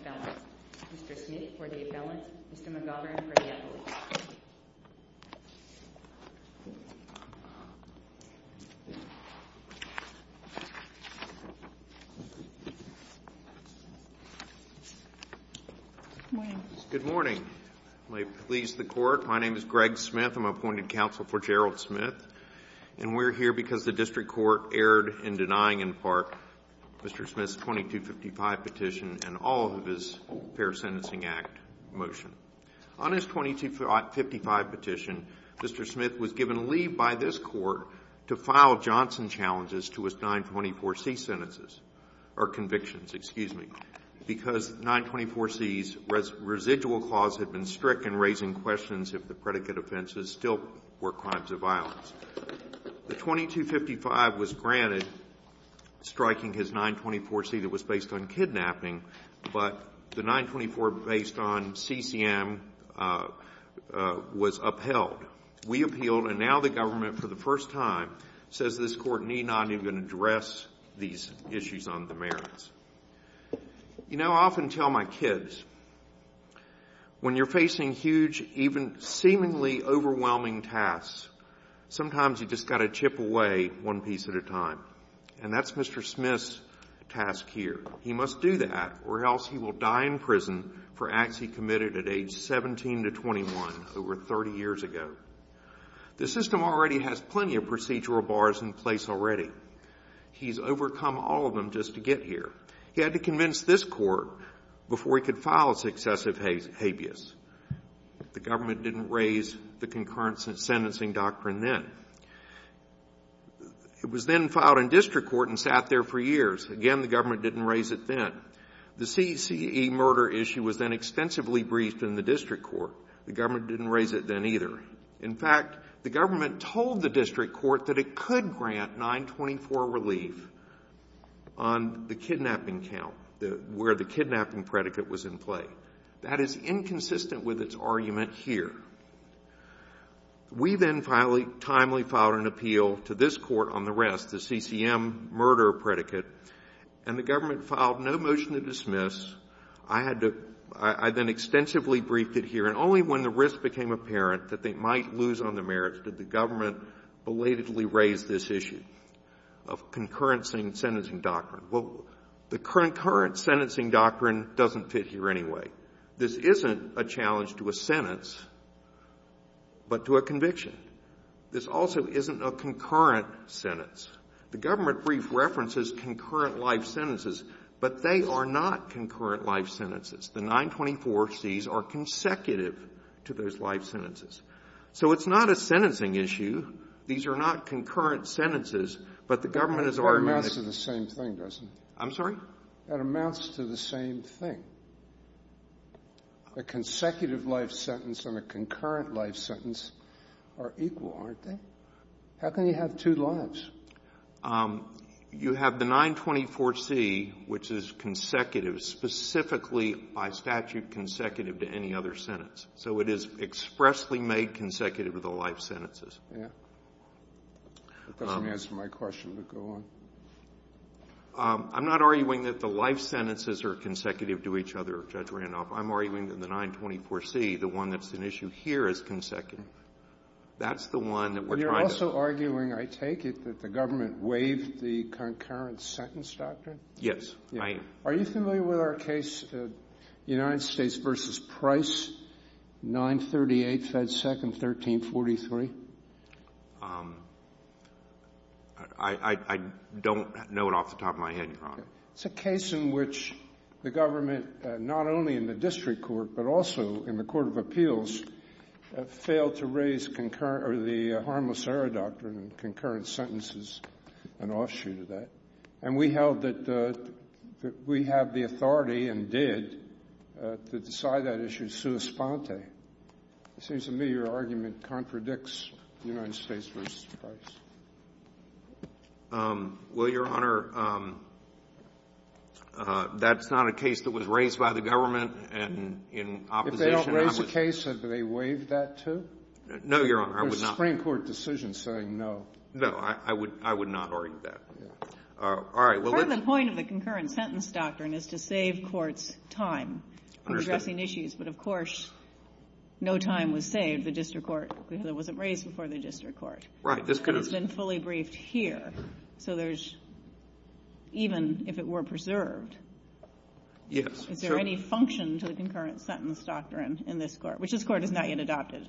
Appellant. Mr. Smith for the Appellant, Mr. McGovern for the Appellant. Good morning. Good morning. May it please the Court, my name is Greg Smith. I'm appointed counsel for Gerald Smith. And we're here because the district court erred in denying in part Mr. Smith's 2255 petition and all of his Fair Sentencing Act motion. On his 2255 petition, Mr. Smith was given leave by this Court to file Johnson challenges to his 924C sentences or convictions, excuse me, because 924C's residual clause had been strict in raising questions if the predicate offenses still were crimes of violence. The 2255 was granted, striking his 924C that was based on kidnapping, but the 924 based on CCM was upheld. We appealed, and now the government for the first time says this Court need not even address these issues on the merits. You know, I often tell my kids, when you're facing huge, even seemingly overwhelming tasks, sometimes you've just got to chip away one piece at a time. And that's Mr. Smith's task here. He must do that, or else he will die in prison for acts he committed at age 17 to 21, over 30 years ago. The system already has plenty of procedural bars in place already. He's overcome all of them just to get here. He had to convince this Court before he could file successive habeas. The government didn't raise the concurrence in sentencing doctrine then. It was then filed in district court and sat there for years. Again, the government didn't raise it then. The CCE murder issue was then extensively briefed in the district court. The government didn't raise it then either. In fact, the government told the Court on the kidnapping count, where the kidnapping predicate was in play. That is inconsistent with its argument here. We then finally, timely filed an appeal to this Court on the rest, the CCM murder predicate, and the government filed no motion to dismiss. I had to — I then extensively briefed it here, and only when the risk became apparent that they might lose on the merits did the government belatedly raise this issue of concurrence in sentencing doctrine. Well, the concurrent sentencing doctrine doesn't fit here anyway. This isn't a challenge to a sentence, but to a conviction. This also isn't a concurrent sentence. The government briefed references, concurrent life sentences, but they are not concurrent life sentences. The 924Cs are consecutive to those life sentences. So it's not a sentencing issue. These are not concurrent sentences, but the government is arguing that — That amounts to the same thing, doesn't it? I'm sorry? That amounts to the same thing. A consecutive life sentence and a concurrent life sentence are equal, aren't they? How can you have two lives? You have the 924C, which is consecutive, specifically by statute consecutive to any other sentence. So it is expressly made consecutive of the life sentences. Yeah. It doesn't answer my question, but go on. I'm not arguing that the life sentences are consecutive to each other, Judge Randolph. I'm arguing that the 924C, the one that's an issue here, is consecutive. That's the one that we're trying to — But you're also arguing, I take it, that the government waived the concurrent sentence doctrine? Right. Are you familiar with our case, United States v. Price, 938 Fed Second 1343? I don't know it off the top of my head, Your Honor. It's a case in which the government, not only in the district court, but also in the court of appeals, failed to raise the harmless error doctrine and concurrent sentences an offshoot of that. And we held that we have the authority and did to decide that issue sui sponte. It seems to me your argument contradicts United States v. Price. Well, Your Honor, that's not a case that was raised by the government and in opposition — If they don't raise the case, have they waived that, too? No, Your Honor. I would not — There's a Supreme Court decision saying no. No. I would not argue that. All right. Well, let's — Part of the point of the concurrent sentence doctrine is to save courts time — I understand. — addressing issues. But, of course, no time was saved, the district court, because it wasn't raised before the district court. Right. This could have — It's been fully briefed here. So there's — even if it were preserved — Yes. Is there any function to the concurrent sentence doctrine in this Court, which this Court has not yet adopted?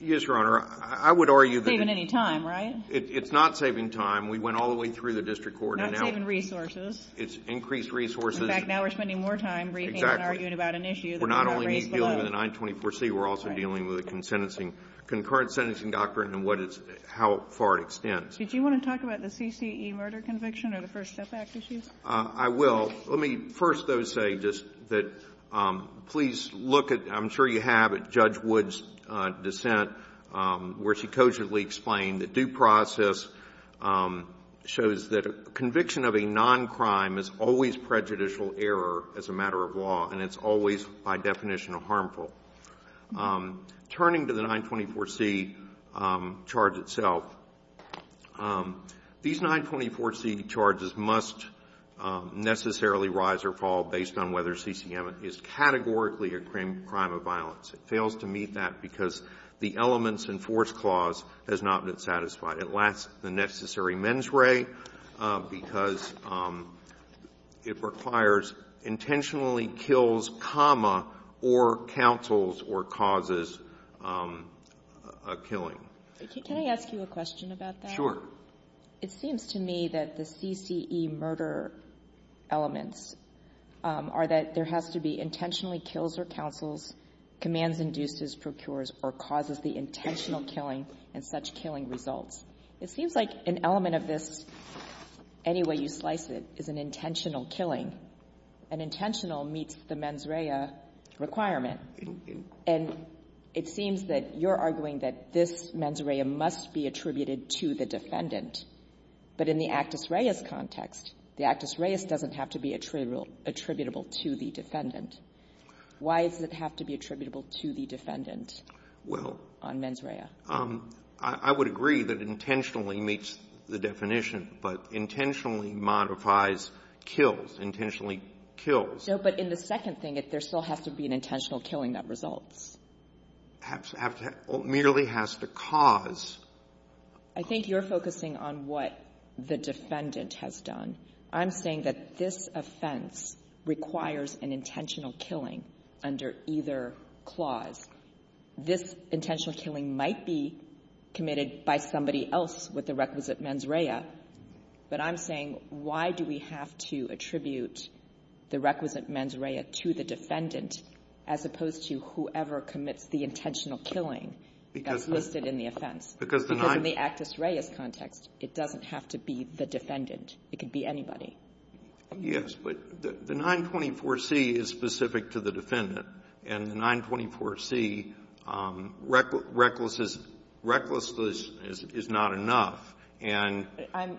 Yes, Your Honor. I would argue that — It's not saving any time, right? It's not saving time. We went all the way through the district court, and now — Not saving resources. It's increased resources. In fact, now we're spending more time briefing — Exactly. — and arguing about an issue that was not raised below. We're not only dealing with the 924C. Right. We're also dealing with the consentencing — concurrent sentencing doctrine and what it's — how far it extends. Did you want to talk about the CCE murder conviction or the First Step Act issues? I will. Let me first, though, say just that please look at — I'm sure you have at least a little bit of evidence in this dissent where she cogently explained that due process shows that conviction of a non-crime is always prejudicial error as a matter of law, and it's always, by definition, harmful. Turning to the 924C charge itself, these 924C charges must necessarily rise or fall based on whether CCM is categorically a crime of violence. It fails to meet that because the elements and force clause has not been satisfied. It lacks the necessary mens re because it requires intentionally kills, comma, or counsels or causes a killing. Can I ask you a question about that? Sure. It seems to me that the CCE murder elements are that there has to be intentionally kills or counsels, commands, induces, procures, or causes the intentional killing and such killing results. It seems like an element of this, any way you slice it, is an intentional killing. An intentional meets the mens rea requirement. And it seems that you're arguing that this mens rea must be attributed to the defendant. But in the actus reus context, the actus reus doesn't have to be attributable to the defendant. Why does it have to be attributable to the defendant on mens rea? I would agree that intentionally meets the definition, but intentionally modifies kills, intentionally kills. No, but in the second thing, there still has to be an intentional killing that results. Merely has to cause. I think you're focusing on what the defendant has done. I'm saying that this offense requires an intentional killing under either clause. This intentional killing might be committed by somebody else with the requisite mens rea, but I'm saying why do we have to attribute the requisite mens rea to the defendant, as opposed to whoever commits the intentional killing that's listed in the offense? Because in the actus reus context, it doesn't have to be the defendant. It could be anybody. Yes. But the 924C is specific to the defendant. And the 924C recklessness is not enough. I'm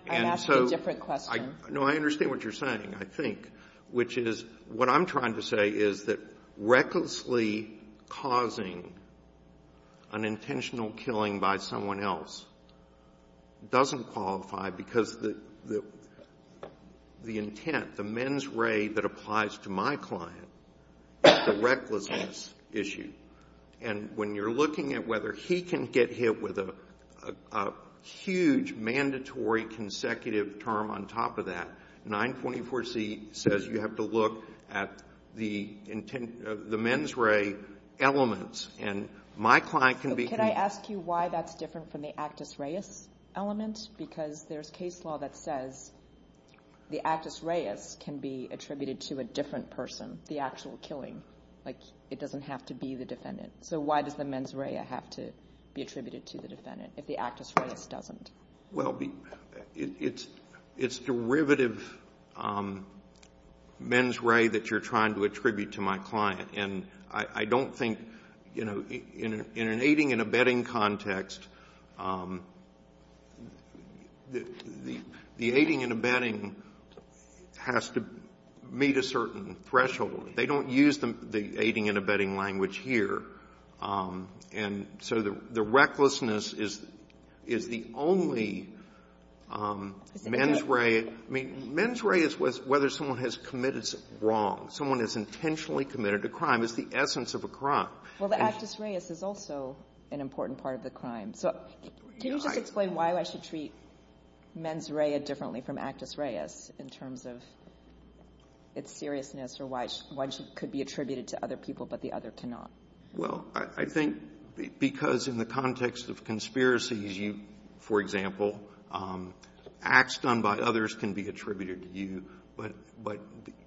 asking a different question. No, I understand what you're saying, I think, which is what I'm trying to say is that an intentional killing by someone else doesn't qualify because the intent, the mens rea that applies to my client is the recklessness issue. And when you're looking at whether he can get hit with a huge mandatory consecutive term on top of that, 924C says you have to look at the mens rea elements. So could I ask you why that's different from the actus reus element? Because there's case law that says the actus reus can be attributed to a different person, the actual killing. Like, it doesn't have to be the defendant. So why does the mens rea have to be attributed to the defendant if the actus reus doesn't? Well, it's derivative mens rea that you're trying to attribute to my client. And I don't think, you know, in an aiding and abetting context, the aiding and abetting has to meet a certain threshold. They don't use the aiding and abetting language here. And so the recklessness is the only mens rea. I mean, mens rea is whether someone has committed wrong. Someone has intentionally committed a crime. It's the essence of a crime. Well, the actus reus is also an important part of the crime. So can you just explain why I should treat mens rea differently from actus reus in terms of its seriousness or why it could be attributed to other people but the other cannot? Well, I think because in the context of conspiracies, you, for example, acts done by others can be attributed to you, but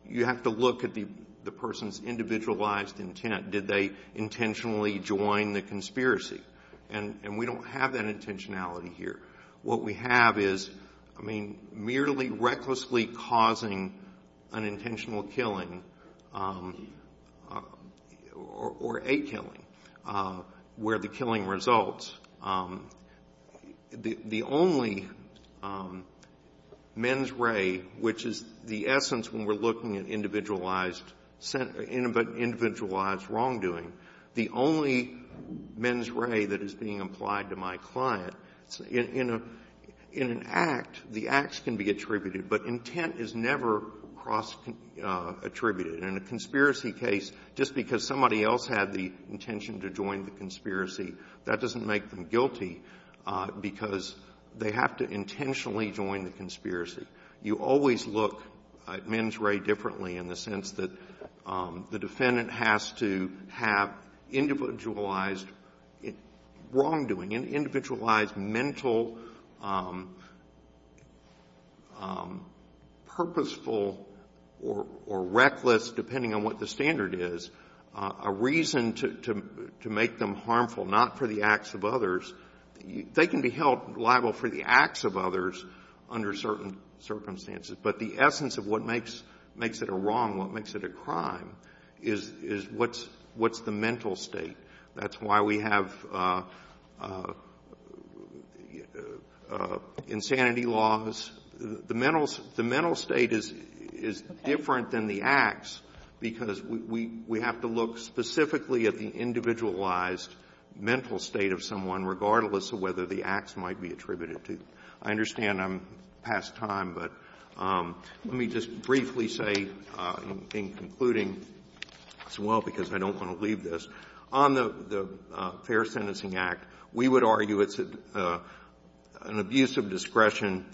you have to look at the person's individualized intent. Did they intentionally join the conspiracy? And we don't have that intentionality here. What we have is, I mean, merely recklessly causing an intentional killing or a killing where the killing results. The only mens rea, which is the essence when we're looking at individualized wrongdoing, the only mens rea that is being applied to my client, in an act, the acts can be attributed, but intent is never cross-attributed. In a conspiracy case, just because somebody else had the intention to join the conspiracy, that doesn't make them guilty because they have to intentionally join the conspiracy. You always look at mens rea differently in the sense that the defendant has to have individualized wrongdoing, an individualized mental purposeful or reckless, depending on the circumstances. But the essence of what makes it a wrong, what makes it a crime, is what's the mental state. That's why we have insanity laws. The mental state is different than the acts because we have to look specifically at the individualized mental state of someone, regardless of whether the acts might be attributed to. I understand I'm past time, but let me just briefly say in concluding as well, because I don't want to leave this, on the Fair Sentencing Act, we would argue it's an abuse of discretion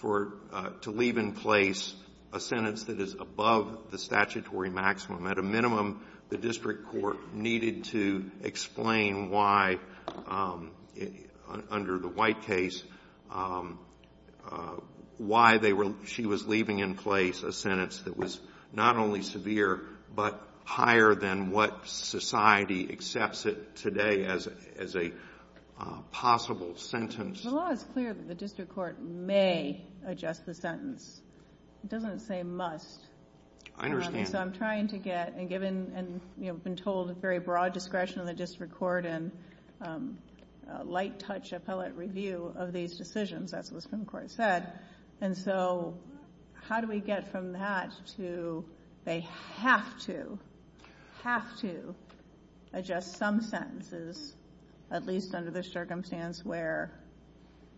for to leave in place a sentence that is above the statutory maximum. At a minimum, the district court needed to explain why, under the White case, why she was leaving in place a sentence that was not only severe, but higher than what society accepts it today as a possible sentence. The law is clear that the district court may adjust the sentence. It doesn't say must. I understand. So I'm trying to get, and given, you know, I've been told very broad discretion of the district court and light touch appellate review of these decisions, that's what the Supreme Court said, and so how do we get from that to they have to, have to adjust some sentences, at least under the circumstance where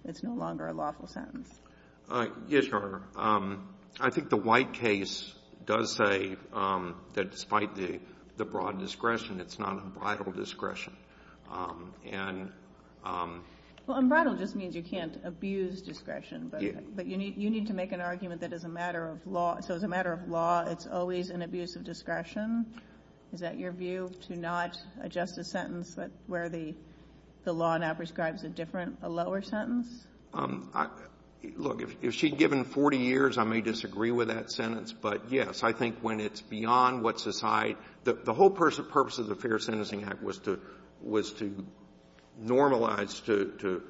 it's no longer a lawful sentence. Yes, Your Honor. I think the White case does say that despite the broad discretion, it's not unbridled discretion. Well, unbridled just means you can't abuse discretion, but you need to make an argument that is a matter of law. So as a matter of law, it's always an abuse of discretion. Is that your view, to not adjust a sentence where the law now prescribes a different, a lower sentence? Look, if she had given 40 years, I may disagree with that sentence, but, yes, I think when it's beyond what society the whole purpose of the Fair Sentencing Act was to normalize, to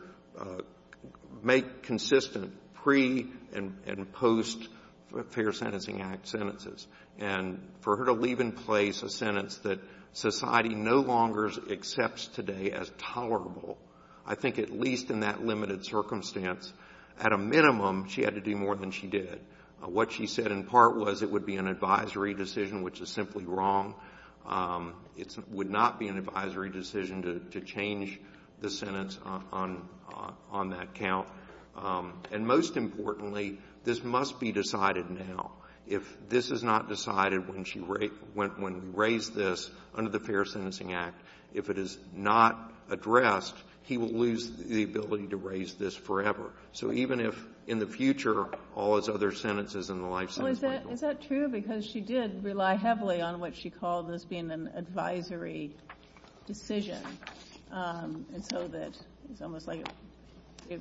make consistent pre- and post-Fair Sentencing Act sentences, and for her to leave in place a sentence that society no longer accepts today as tolerable, I think at least in that limited circumstance, at a minimum, she had to do more than she did. What she said in part was it would be an advisory decision, which is simply wrong. It would not be an advisory decision to change the sentence on that count. And most importantly, this must be decided now. If this is not decided when she raised this under the Fair Sentencing Act, if it is not addressed, he will lose the ability to raise this forever. So even if in the future all his other sentences in the life sentence might be wrong. Is that true? Because she did rely heavily on what she called this being an advisory decision. And so that it's almost like it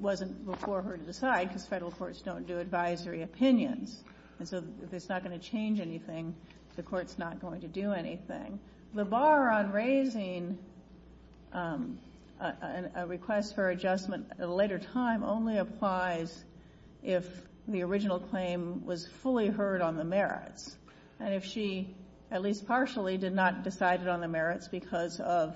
wasn't before her to decide, because federal courts don't do advisory opinions. And so if it's not going to change anything, the court's not going to do anything. The bar on raising a request for adjustment at a later time only applies if the original claim was fully heard on the merits. And if she, at least partially, did not decide it on the merits because of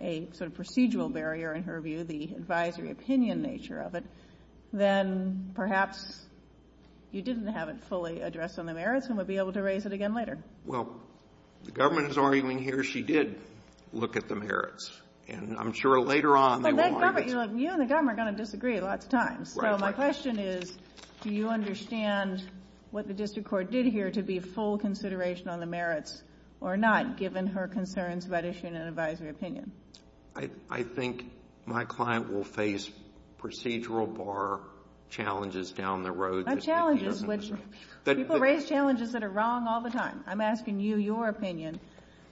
a sort of procedural barrier, in her view, the advisory opinion nature of it, then perhaps you didn't have it fully addressed on the merits and would be able to raise it again later. Well, the government is arguing here she did look at the merits. And I'm sure later on they will argue it. Well, you and the government are going to disagree lots of times. Right. So my question is, do you understand what the district court did here to be full consideration on the merits or not, given her concerns about issuing an advisory opinion? I think my client will face procedural bar challenges down the road. Not challenges, which people raise challenges that are wrong all the time. I'm asking you your opinion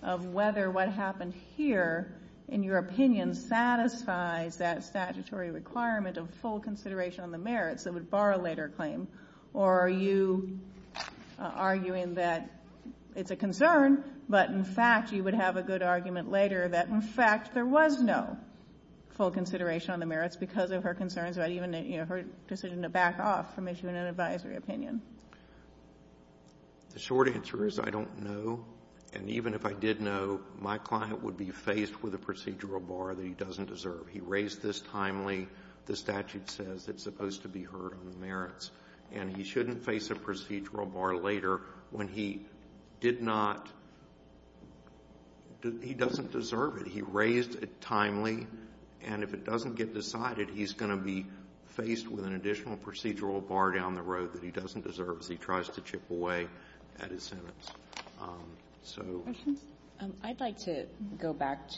of whether what happened here, in your opinion, satisfies that statutory requirement of full consideration on the merits that would bar a later claim. Or are you arguing that it's a concern, but, in fact, you would have a good argument later that, in fact, there was no full consideration on the merits because of her concerns about even her decision to back off from issuing an advisory opinion? The short answer is I don't know. And even if I did know, my client would be faced with a procedural bar that he doesn't deserve. He raised this timely. The statute says it's supposed to be heard on the merits. And he shouldn't face a procedural bar later when he did not do — he doesn't deserve it. He raised it timely. And if it doesn't get decided, he's going to be faced with an additional procedural bar down the road that he doesn't deserve, as he tries to chip away at his sentence. So — Kagan. I'd like to go back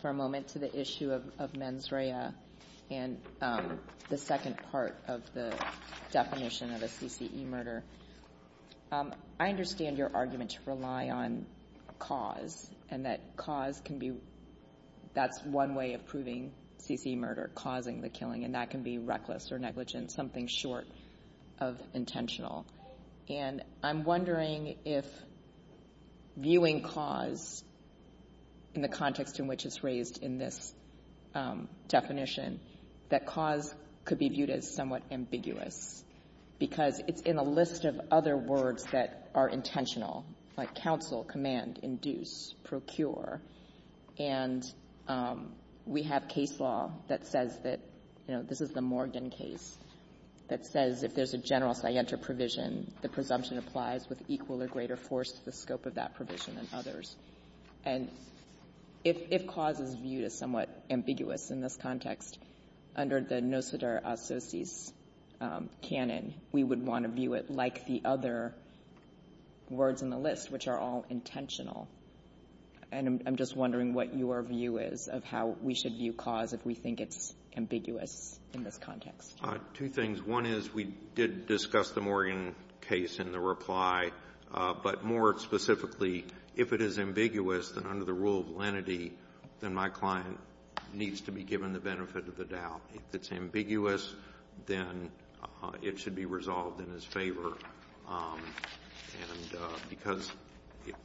for a moment to the issue of mens rea and the second part of the definition of a CCE murder. I understand your argument to rely on cause and that cause can be — that's one way of proving CCE murder, causing the killing, and that can be reckless or negligent, something short of intentional. And I'm wondering if viewing cause in the context in which it's raised in this definition, that cause could be viewed as somewhat ambiguous, because it's in a list of other words that are intentional, like counsel, command, induce, procure. And we have case law that says that, you know, this is the Morgan case, that says if there's a general scienter provision, the presumption applies with equal or greater force to the scope of that provision than others. And if cause is viewed as somewhat ambiguous in this context, under the nociter associis canon, we would want to view it like the other words in the list, which are all intentional. And I'm just wondering what your view is of how we should view cause if we think it's ambiguous in this context. Two things. One is we did discuss the Morgan case in the reply, but more specifically, if it is ambiguous, then under the rule of lenity, then my client needs to be given the benefit of the doubt. If it's ambiguous, then it should be resolved in his favor. And because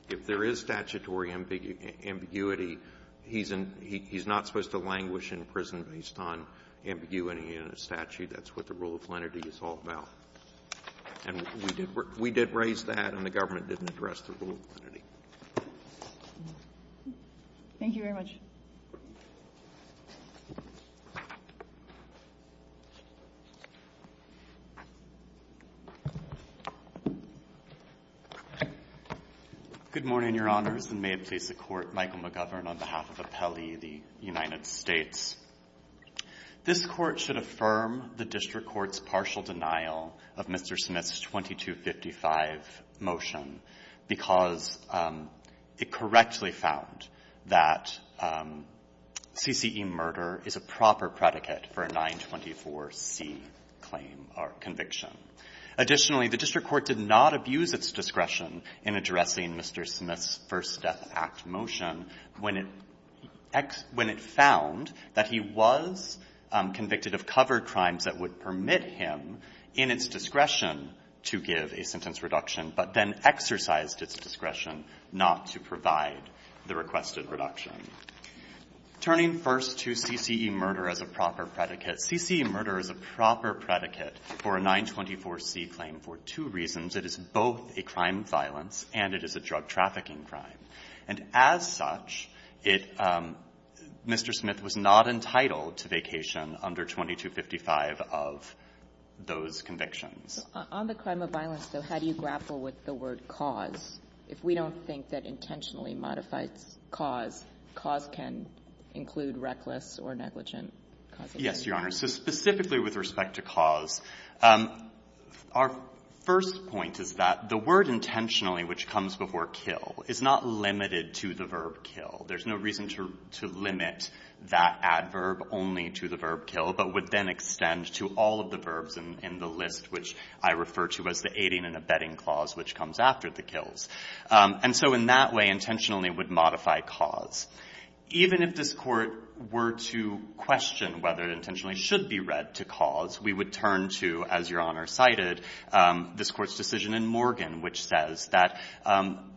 if there is statutory ambiguity, he's not supposed to languish in prison based on ambiguity in a statute. That's what the rule of lenity is all about. And we did raise that, and the government didn't address the rule of lenity. Thank you very much. Good morning, Your Honors, and may it please the Court, Michael McGovern, on behalf of Appellee, the United States. This Court should affirm the district court's partial denial of Mr. Smith's 2255 It correctly found that CCE murder is a proper predicate for a 924C claim or conviction. Additionally, the district court did not abuse its discretion in addressing Mr. Smith's First Death Act motion when it found that he was convicted of covered crimes that would permit him, in its discretion, to give a sentence reduction, but then exercised its discretion not to provide the requested reduction. Turning first to CCE murder as a proper predicate, CCE murder is a proper predicate for a 924C claim for two reasons. It is both a crime of violence and it is a drug trafficking crime. And as such, it Mr. Smith was not entitled to vacation under 2255 of those convictions. On the crime of violence, though, how do you grapple with the word cause? If we don't think that intentionally modifies cause, cause can include reckless or negligent cause of death. Yes, Your Honor. So specifically with respect to cause, our first point is that the word intentionally, which comes before kill, is not limited to the verb kill. There's no reason to limit that adverb only to the verb kill, but would then extend to all of the verbs in the list, which I refer to as the aiding and abetting clause, which comes after the kills. And so in that way, intentionally would modify cause. Even if this Court were to question whether intentionally should be read to cause, we would turn to, as Your Honor cited, this Court's decision in Morgan, which says that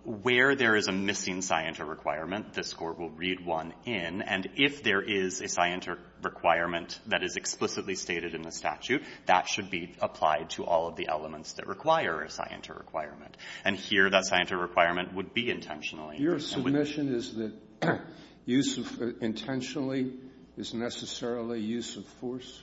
where there is a missing scienter requirement, this Court will read one in. And if there is a scienter requirement that is explicitly stated in the statute, that should be applied to all of the elements that require a scienter requirement. And here, that scienter requirement would be intentionally. Your submission is that use of intentionally is necessarily use of force?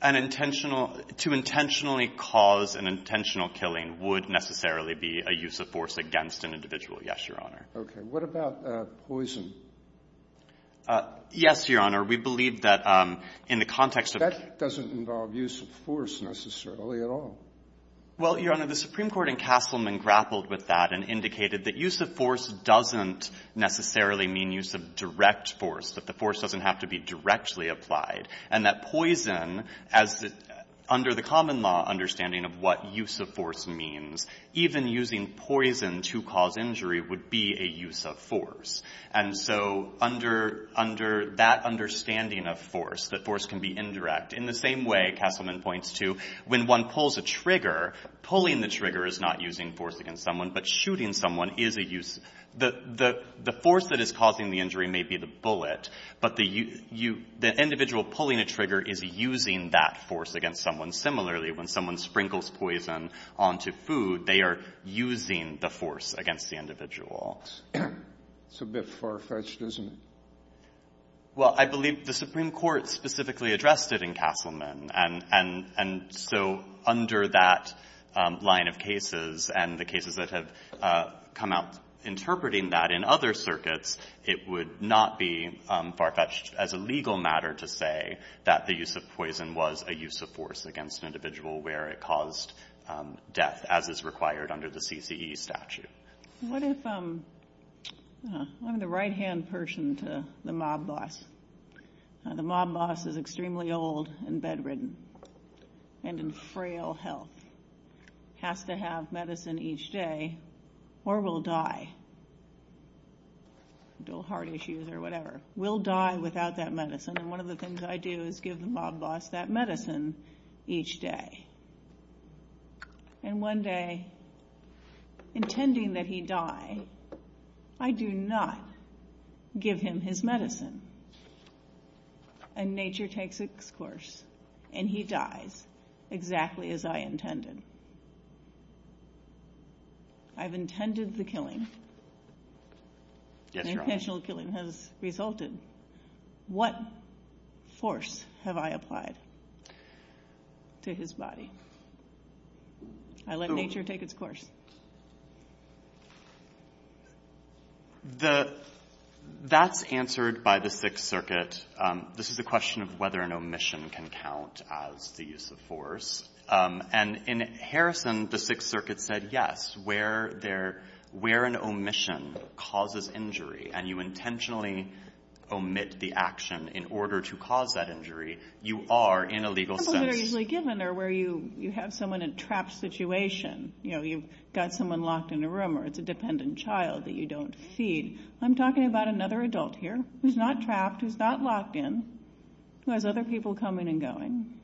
An intentional — to intentionally cause an intentional killing would necessarily be a use of force against an individual, yes, Your Honor. Okay. What about poison? Yes, Your Honor. We believe that in the context of — That doesn't involve use of force necessarily at all. Well, Your Honor, the Supreme Court in Castleman grappled with that and indicated that use of force doesn't necessarily mean use of direct force, that the force doesn't have to be directly applied, and that poison, as under the common law understanding of what use of force means, even using poison to cause injury would be a use of force. And so under that understanding of force, that force can be indirect, in the same way, Castleman points to, when one pulls a trigger, pulling the trigger is not using force against someone, but shooting someone is a use — the force that is causing the injury may be the bullet, but the individual pulling a trigger is using that force against someone. Similarly, when someone sprinkles poison onto food, they are using the force against the individual. It's a bit far-fetched, isn't it? Well, I believe the Supreme Court specifically addressed it in Castleman, and so under that line of cases and the cases that have come out interpreting that in other circuits, it would not be far-fetched as a legal matter to say that the use of poison was a use of force against an individual where it caused death, as is required under the CCE statute. What if — I'm the right-hand person to the mob boss. The mob boss is extremely old and bedridden and in frail health, has to have medicine each day, or will die — dual heart issues or whatever — will die without that medicine. And one of the things I do is give the mob boss that medicine each day. And one day, intending that he die, I do not give him his medicine. And nature takes its course, and he dies exactly as I intended. I've intended the killing. Yes, Your Honor. An intentional killing has resulted. What force have I applied to his body? I let nature take its course. The — that's answered by the Sixth Circuit. This is a question of whether an omission can count as the use of force. And in Harrison, the Sixth Circuit said, yes, where there — where an omission causes injury and you intentionally omit the action in order to cause that injury, you are, in a legal sense — Examples that are usually given are where you have someone in a trapped situation. You know, you've got someone locked in a room, or it's a dependent child that you don't feed. I'm talking about another adult here who's not trapped, who's not locked in, who has other people coming and going.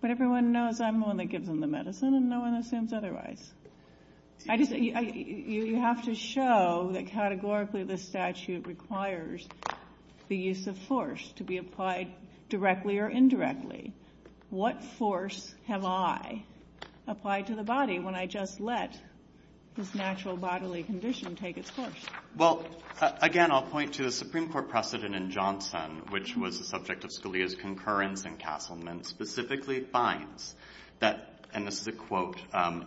But everyone knows I'm the one that gives them the medicine, and no one assumes otherwise. I just — you have to show that categorically this statute requires the use of force to be applied directly or indirectly. What force have I applied to the body when I just let this natural bodily condition take its course? Well, again, I'll point to the Supreme Court precedent in Johnson, which was the subject of Scalia's concurrence in Castleman, specifically finds that — and this is a quote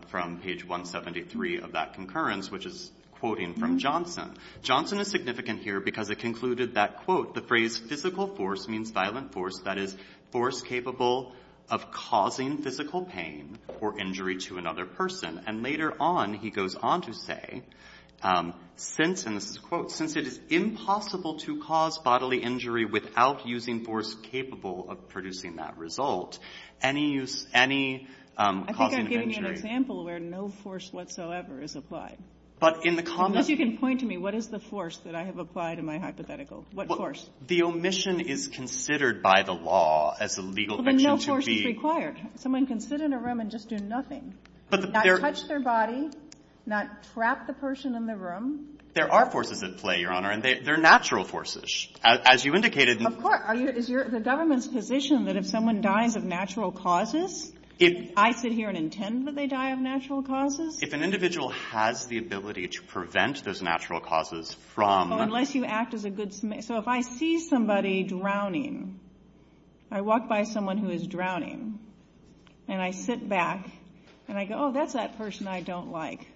from page 173 of that concurrence, which is quoting from Johnson. Johnson is significant here because it concluded that, quote, the phrase physical force means violent force, that is, force capable of causing physical pain or injury to another person. And later on, he goes on to say, since — and this is a quote — that since it is impossible to cause bodily injury without using force capable of producing that result, any use — any causing of injury — I think I'm giving you an example where no force whatsoever is applied. But in the common — Unless you can point to me, what is the force that I have applied in my hypothetical? What force? The omission is considered by the law as a legal — But no force is required. Someone can sit in a room and just do nothing, not touch their body, not trap the person in the room. There are forces at play, Your Honor, and they're natural forces. As you indicated — Of course. Are you — is the government's position that if someone dies of natural causes, I sit here and intend that they die of natural causes? If an individual has the ability to prevent those natural causes from — Oh, unless you act as a good — so if I see somebody drowning, I walk by someone who is drowning, and I sit back, and I go, oh, that's that person I don't like.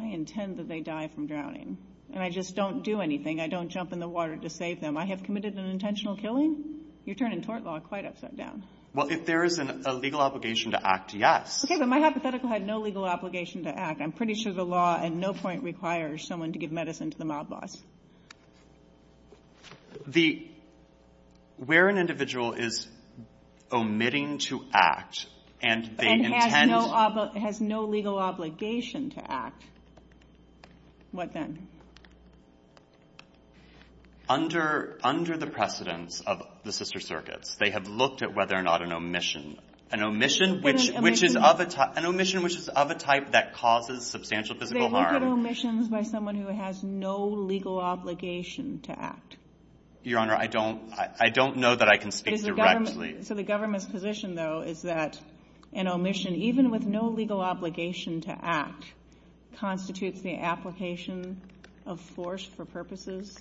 I intend that they die from drowning. And I just don't do anything. I don't jump in the water to save them. I have committed an intentional killing. You're turning tort law quite upside down. Well, if there is a legal obligation to act, yes. Okay, but my hypothetical had no legal obligation to act. I'm pretty sure the law at no point requires someone to give medicine to the mob boss. The — where an individual is omitting to act, and they intend — has no legal obligation to act, what then? Under the precedence of the sister circuits, they have looked at whether or not an omission — An omission which is of a — an omission which is of a type that causes substantial physical harm. They look at omissions by someone who has no legal obligation to act. Your Honor, I don't know that I can speak directly. So the government's position, though, is that an omission, even with no legal obligation to act, constitutes the application of force for purposes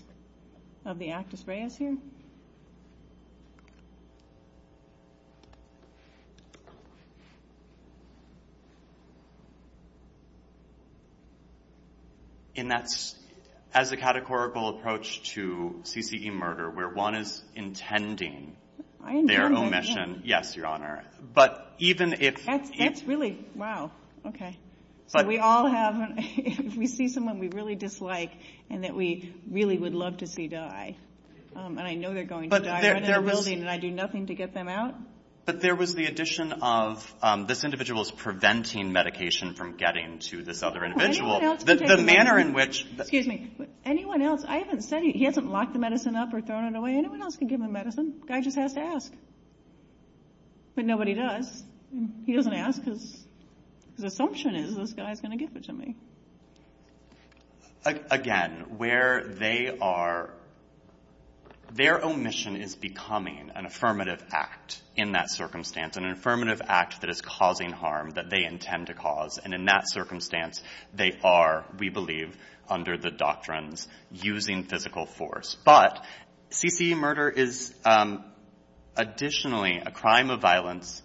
of the actus reus here? And that's — as a categorical approach to CCE murder, where one is intending their omission — I know that, yeah. Yes, Your Honor. But even if — That's really — wow. Okay. So we all have — if we see someone we really dislike and that we really would love to see die, But even if — And I do nothing to get them out? But there was the addition of this individual is preventing medication from getting to this other individual. The manner in which — Excuse me. Anyone else — I haven't said — he hasn't locked the medicine up or thrown it away. Anyone else can give him medicine. Guy just has to ask. But nobody does. He doesn't ask because his assumption is this guy is going to give it to me. Again, where they are — their omission is becoming an affirmative act in that circumstance, an affirmative act that is causing harm that they intend to cause. And in that circumstance, they are, we believe, under the doctrines using physical force. But CCE murder is additionally a crime of violence,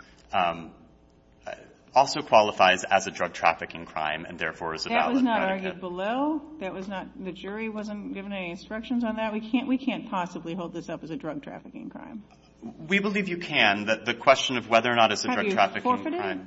also qualifies as a drug trafficking crime, and therefore is a valid predicate. That was not argued below? That was not — the jury wasn't given any instructions on that? We can't possibly hold this up as a drug trafficking crime. We believe you can. The question of whether or not it's a drug trafficking crime — Have you forfeited?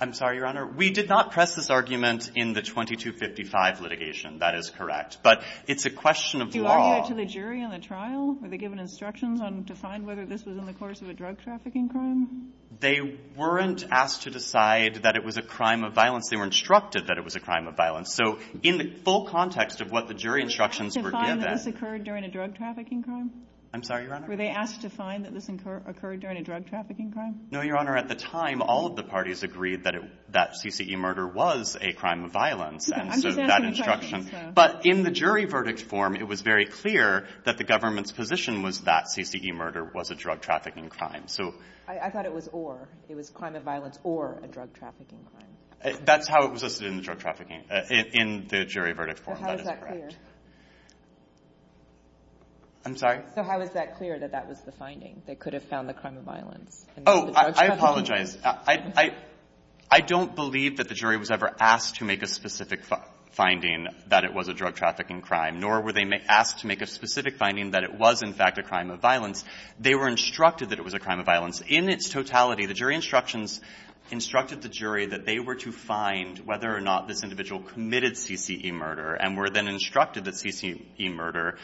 I'm sorry, Your Honor. We did not press this argument in the 2255 litigation. That is correct. But it's a question of law. Do you argue it to the jury in the trial? Were they given instructions on — to find whether this was in the course of a drug trafficking crime? They weren't asked to decide that it was a crime of violence. They were instructed that it was a crime of violence. So in the full context of what the jury instructions were given — Were they asked to find that this occurred during a drug trafficking crime? I'm sorry, Your Honor. Were they asked to find that this occurred during a drug trafficking crime? No, Your Honor. At the time, all of the parties agreed that it — that CCE murder was a crime of violence. And so that instruction — I'm just asking — But in the jury verdict form, it was very clear that the government's position was that CCE murder was a drug trafficking crime. So — I thought it was or. It was climate violence or a drug trafficking crime. That's how it was listed in the drug trafficking — in the jury verdict form. That is correct. So how is that clear? I'm sorry? So how is that clear, that that was the finding, they could have found the crime of violence? Oh, I apologize. I don't believe that the jury was ever asked to make a specific finding that it was a drug trafficking crime, nor were they asked to make a specific finding that it was, in fact, a crime of violence. They were instructed that it was a crime of violence. In its totality, the jury instructions instructed the jury that they were to find whether or not this individual committed CCE murder and were then instructed that CCE murder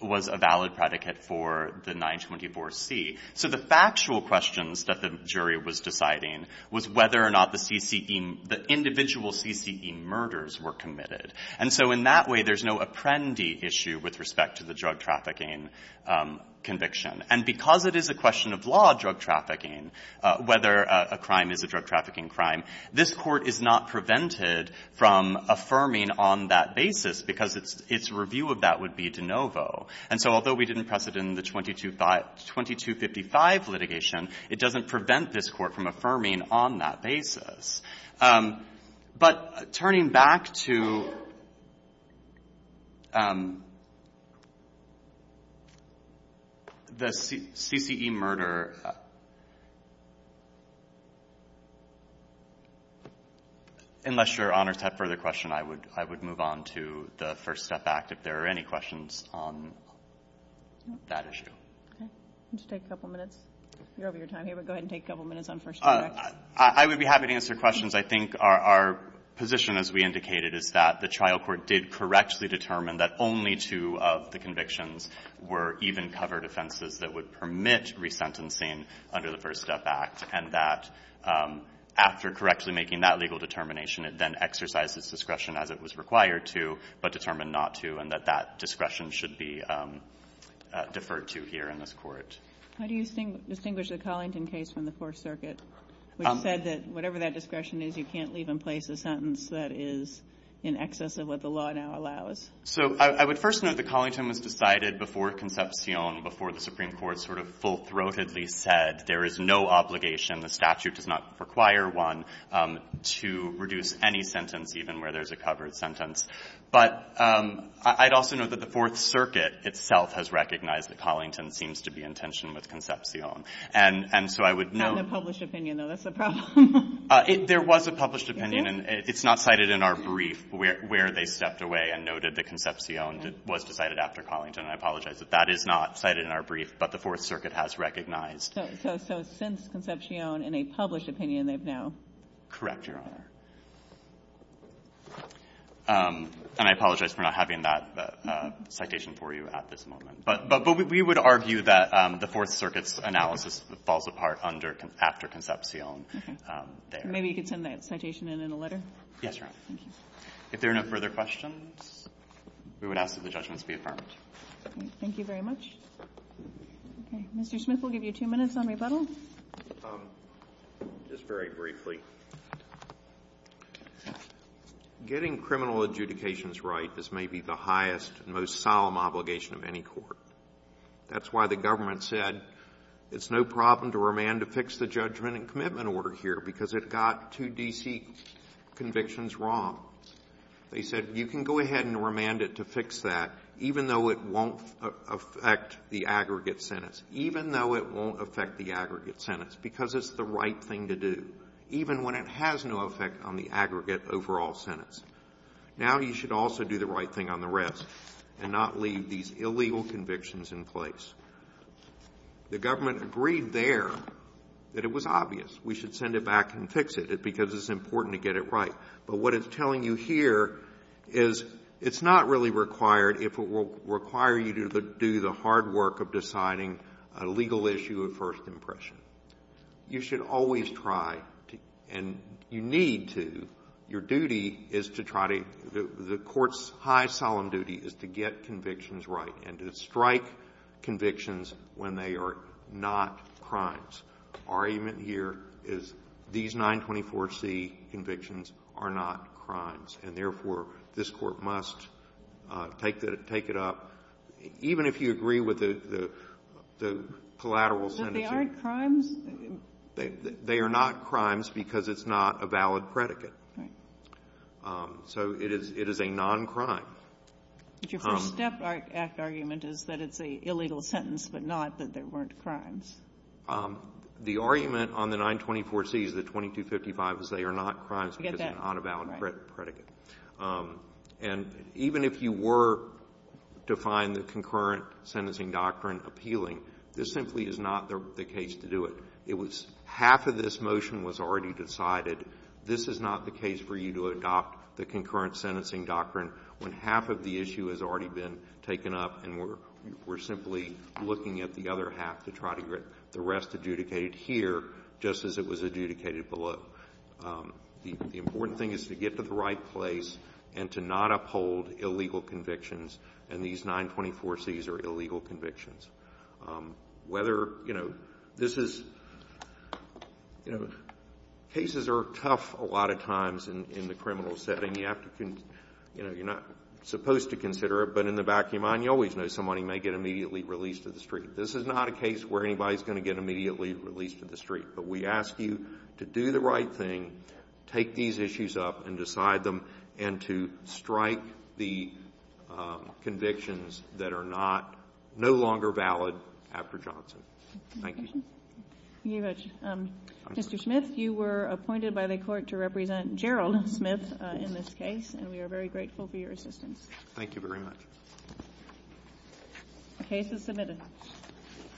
was a valid predicate for the 924C. So the factual questions that the jury was deciding was whether or not the CCE — the individual CCE murders were committed. And so in that way, there's no apprendee issue with respect to the drug trafficking conviction. And because it is a question of law drug trafficking, whether a crime is a drug trafficking crime, this Court is not prevented from affirming on that basis because its review of that would be de novo. And so although we didn't press it in the 2255 litigation, it doesn't prevent this Court from affirming on that basis. But turning back to the CCE murder, unless Your Honors have further questions, I would move on to the First Step Act, if there are any questions on that issue. Okay. Would you take a couple minutes? You're over your time here, but go ahead and take a couple minutes on First Step Act. I would be happy to answer questions. I think our position, as we indicated, is that the trial court did correctly determine that only two of the convictions were even-covered offenses that would permit resentencing under the First Step Act, and that after correctly making that legal determination, it then exercised its discretion as it was required to, but determined not to, and that that discretion should be deferred to here in this Court. How do you distinguish the Collington case from the Fourth Circuit, which said that whatever that discretion is, you can't leave in place a sentence that is in excess of what the law now allows? So I would first note that Collington was decided before Concepcion, before the Supreme Court sort of full-throatedly said there is no obligation, the statute does not require one, to reduce any sentence, even where there's a covered sentence. But I'd also note that the Fourth Circuit itself has recognized that Collington seems to be in tension with Concepcion. And so I would note that the Fourth Circuit has recognized that Collington seems to be in tension with Concepcion. There was a published opinion, and it's not cited in our brief where they stepped away and noted that Concepcion was decided after Collington, and I apologize that that is not cited in our brief, but the Fourth Circuit has recognized. So since Concepcion, in a published opinion, they've now? Correct, Your Honor. And I apologize for not having that citation for you at this moment. But we would argue that the Fourth Circuit's analysis falls apart under, after Concepcion there. Okay. Maybe you could send that citation in in a letter? Yes, Your Honor. Thank you. If there are no further questions, we would ask that the judgments be affirmed. Okay. Thank you very much. Okay. Mr. Smith will give you two minutes on rebuttal. Just very briefly. Getting criminal adjudications right is maybe the highest and most solemn obligation of any court. That's why the government said it's no problem to remand to fix the judgment and commitment order here, because it got two D.C. convictions wrong. They said you can go ahead and remand it to fix that, even though it won't affect the aggregate sentence, even though it won't affect the aggregate sentence, because it's the right thing to do, even when it has no effect on the aggregate overall sentence. Now you should also do the right thing on the rest and not leave these illegal convictions in place. The government agreed there that it was obvious we should send it back and fix it, because it's important to get it right. But what it's telling you here is it's not really required if it will require you to do the hard work of deciding a legal issue of first impression. You should always try, and you need to, your duty is to try to the court's high solemn duty is to get convictions right and to strike convictions when they are not crimes. Our argument here is these 924C convictions are not crimes, and therefore, this Court must take it up, even if you agree with the collateral sentence. But they aren't crimes? They are not crimes because it's not a valid predicate. Right. So it is a non-crime. But your First Step Act argument is that it's an illegal sentence, but not that there weren't crimes. The argument on the 924C is that 2255 is they are not crimes because it's not a valid predicate. And even if you were to find the concurrent sentencing doctrine appealing, this simply is not the case to do it. It was half of this motion was already decided. This is not the case for you to adopt the concurrent sentencing doctrine when half of the issue has already been taken up and we're simply looking at the other half to try to get the rest adjudicated here, just as it was adjudicated below. The important thing is to get to the right place and to not uphold illegal convictions, and these 924Cs are illegal convictions. Whether, you know, this is, you know, cases are tough a lot of times in the criminal setting. You have to, you know, you're not supposed to consider it, but in the back of your mind, you always know somebody may get immediately released to the street. This is not a case where anybody is going to get immediately released to the street. But we ask you to do the right thing, take these issues up and decide them, and to not uphold convictions that are not, no longer valid after Johnson. Thank you. Thank you very much. Mr. Smith, you were appointed by the Court to represent Gerald Smith in this case, and we are very grateful for your assistance. Thank you very much. The case is submitted.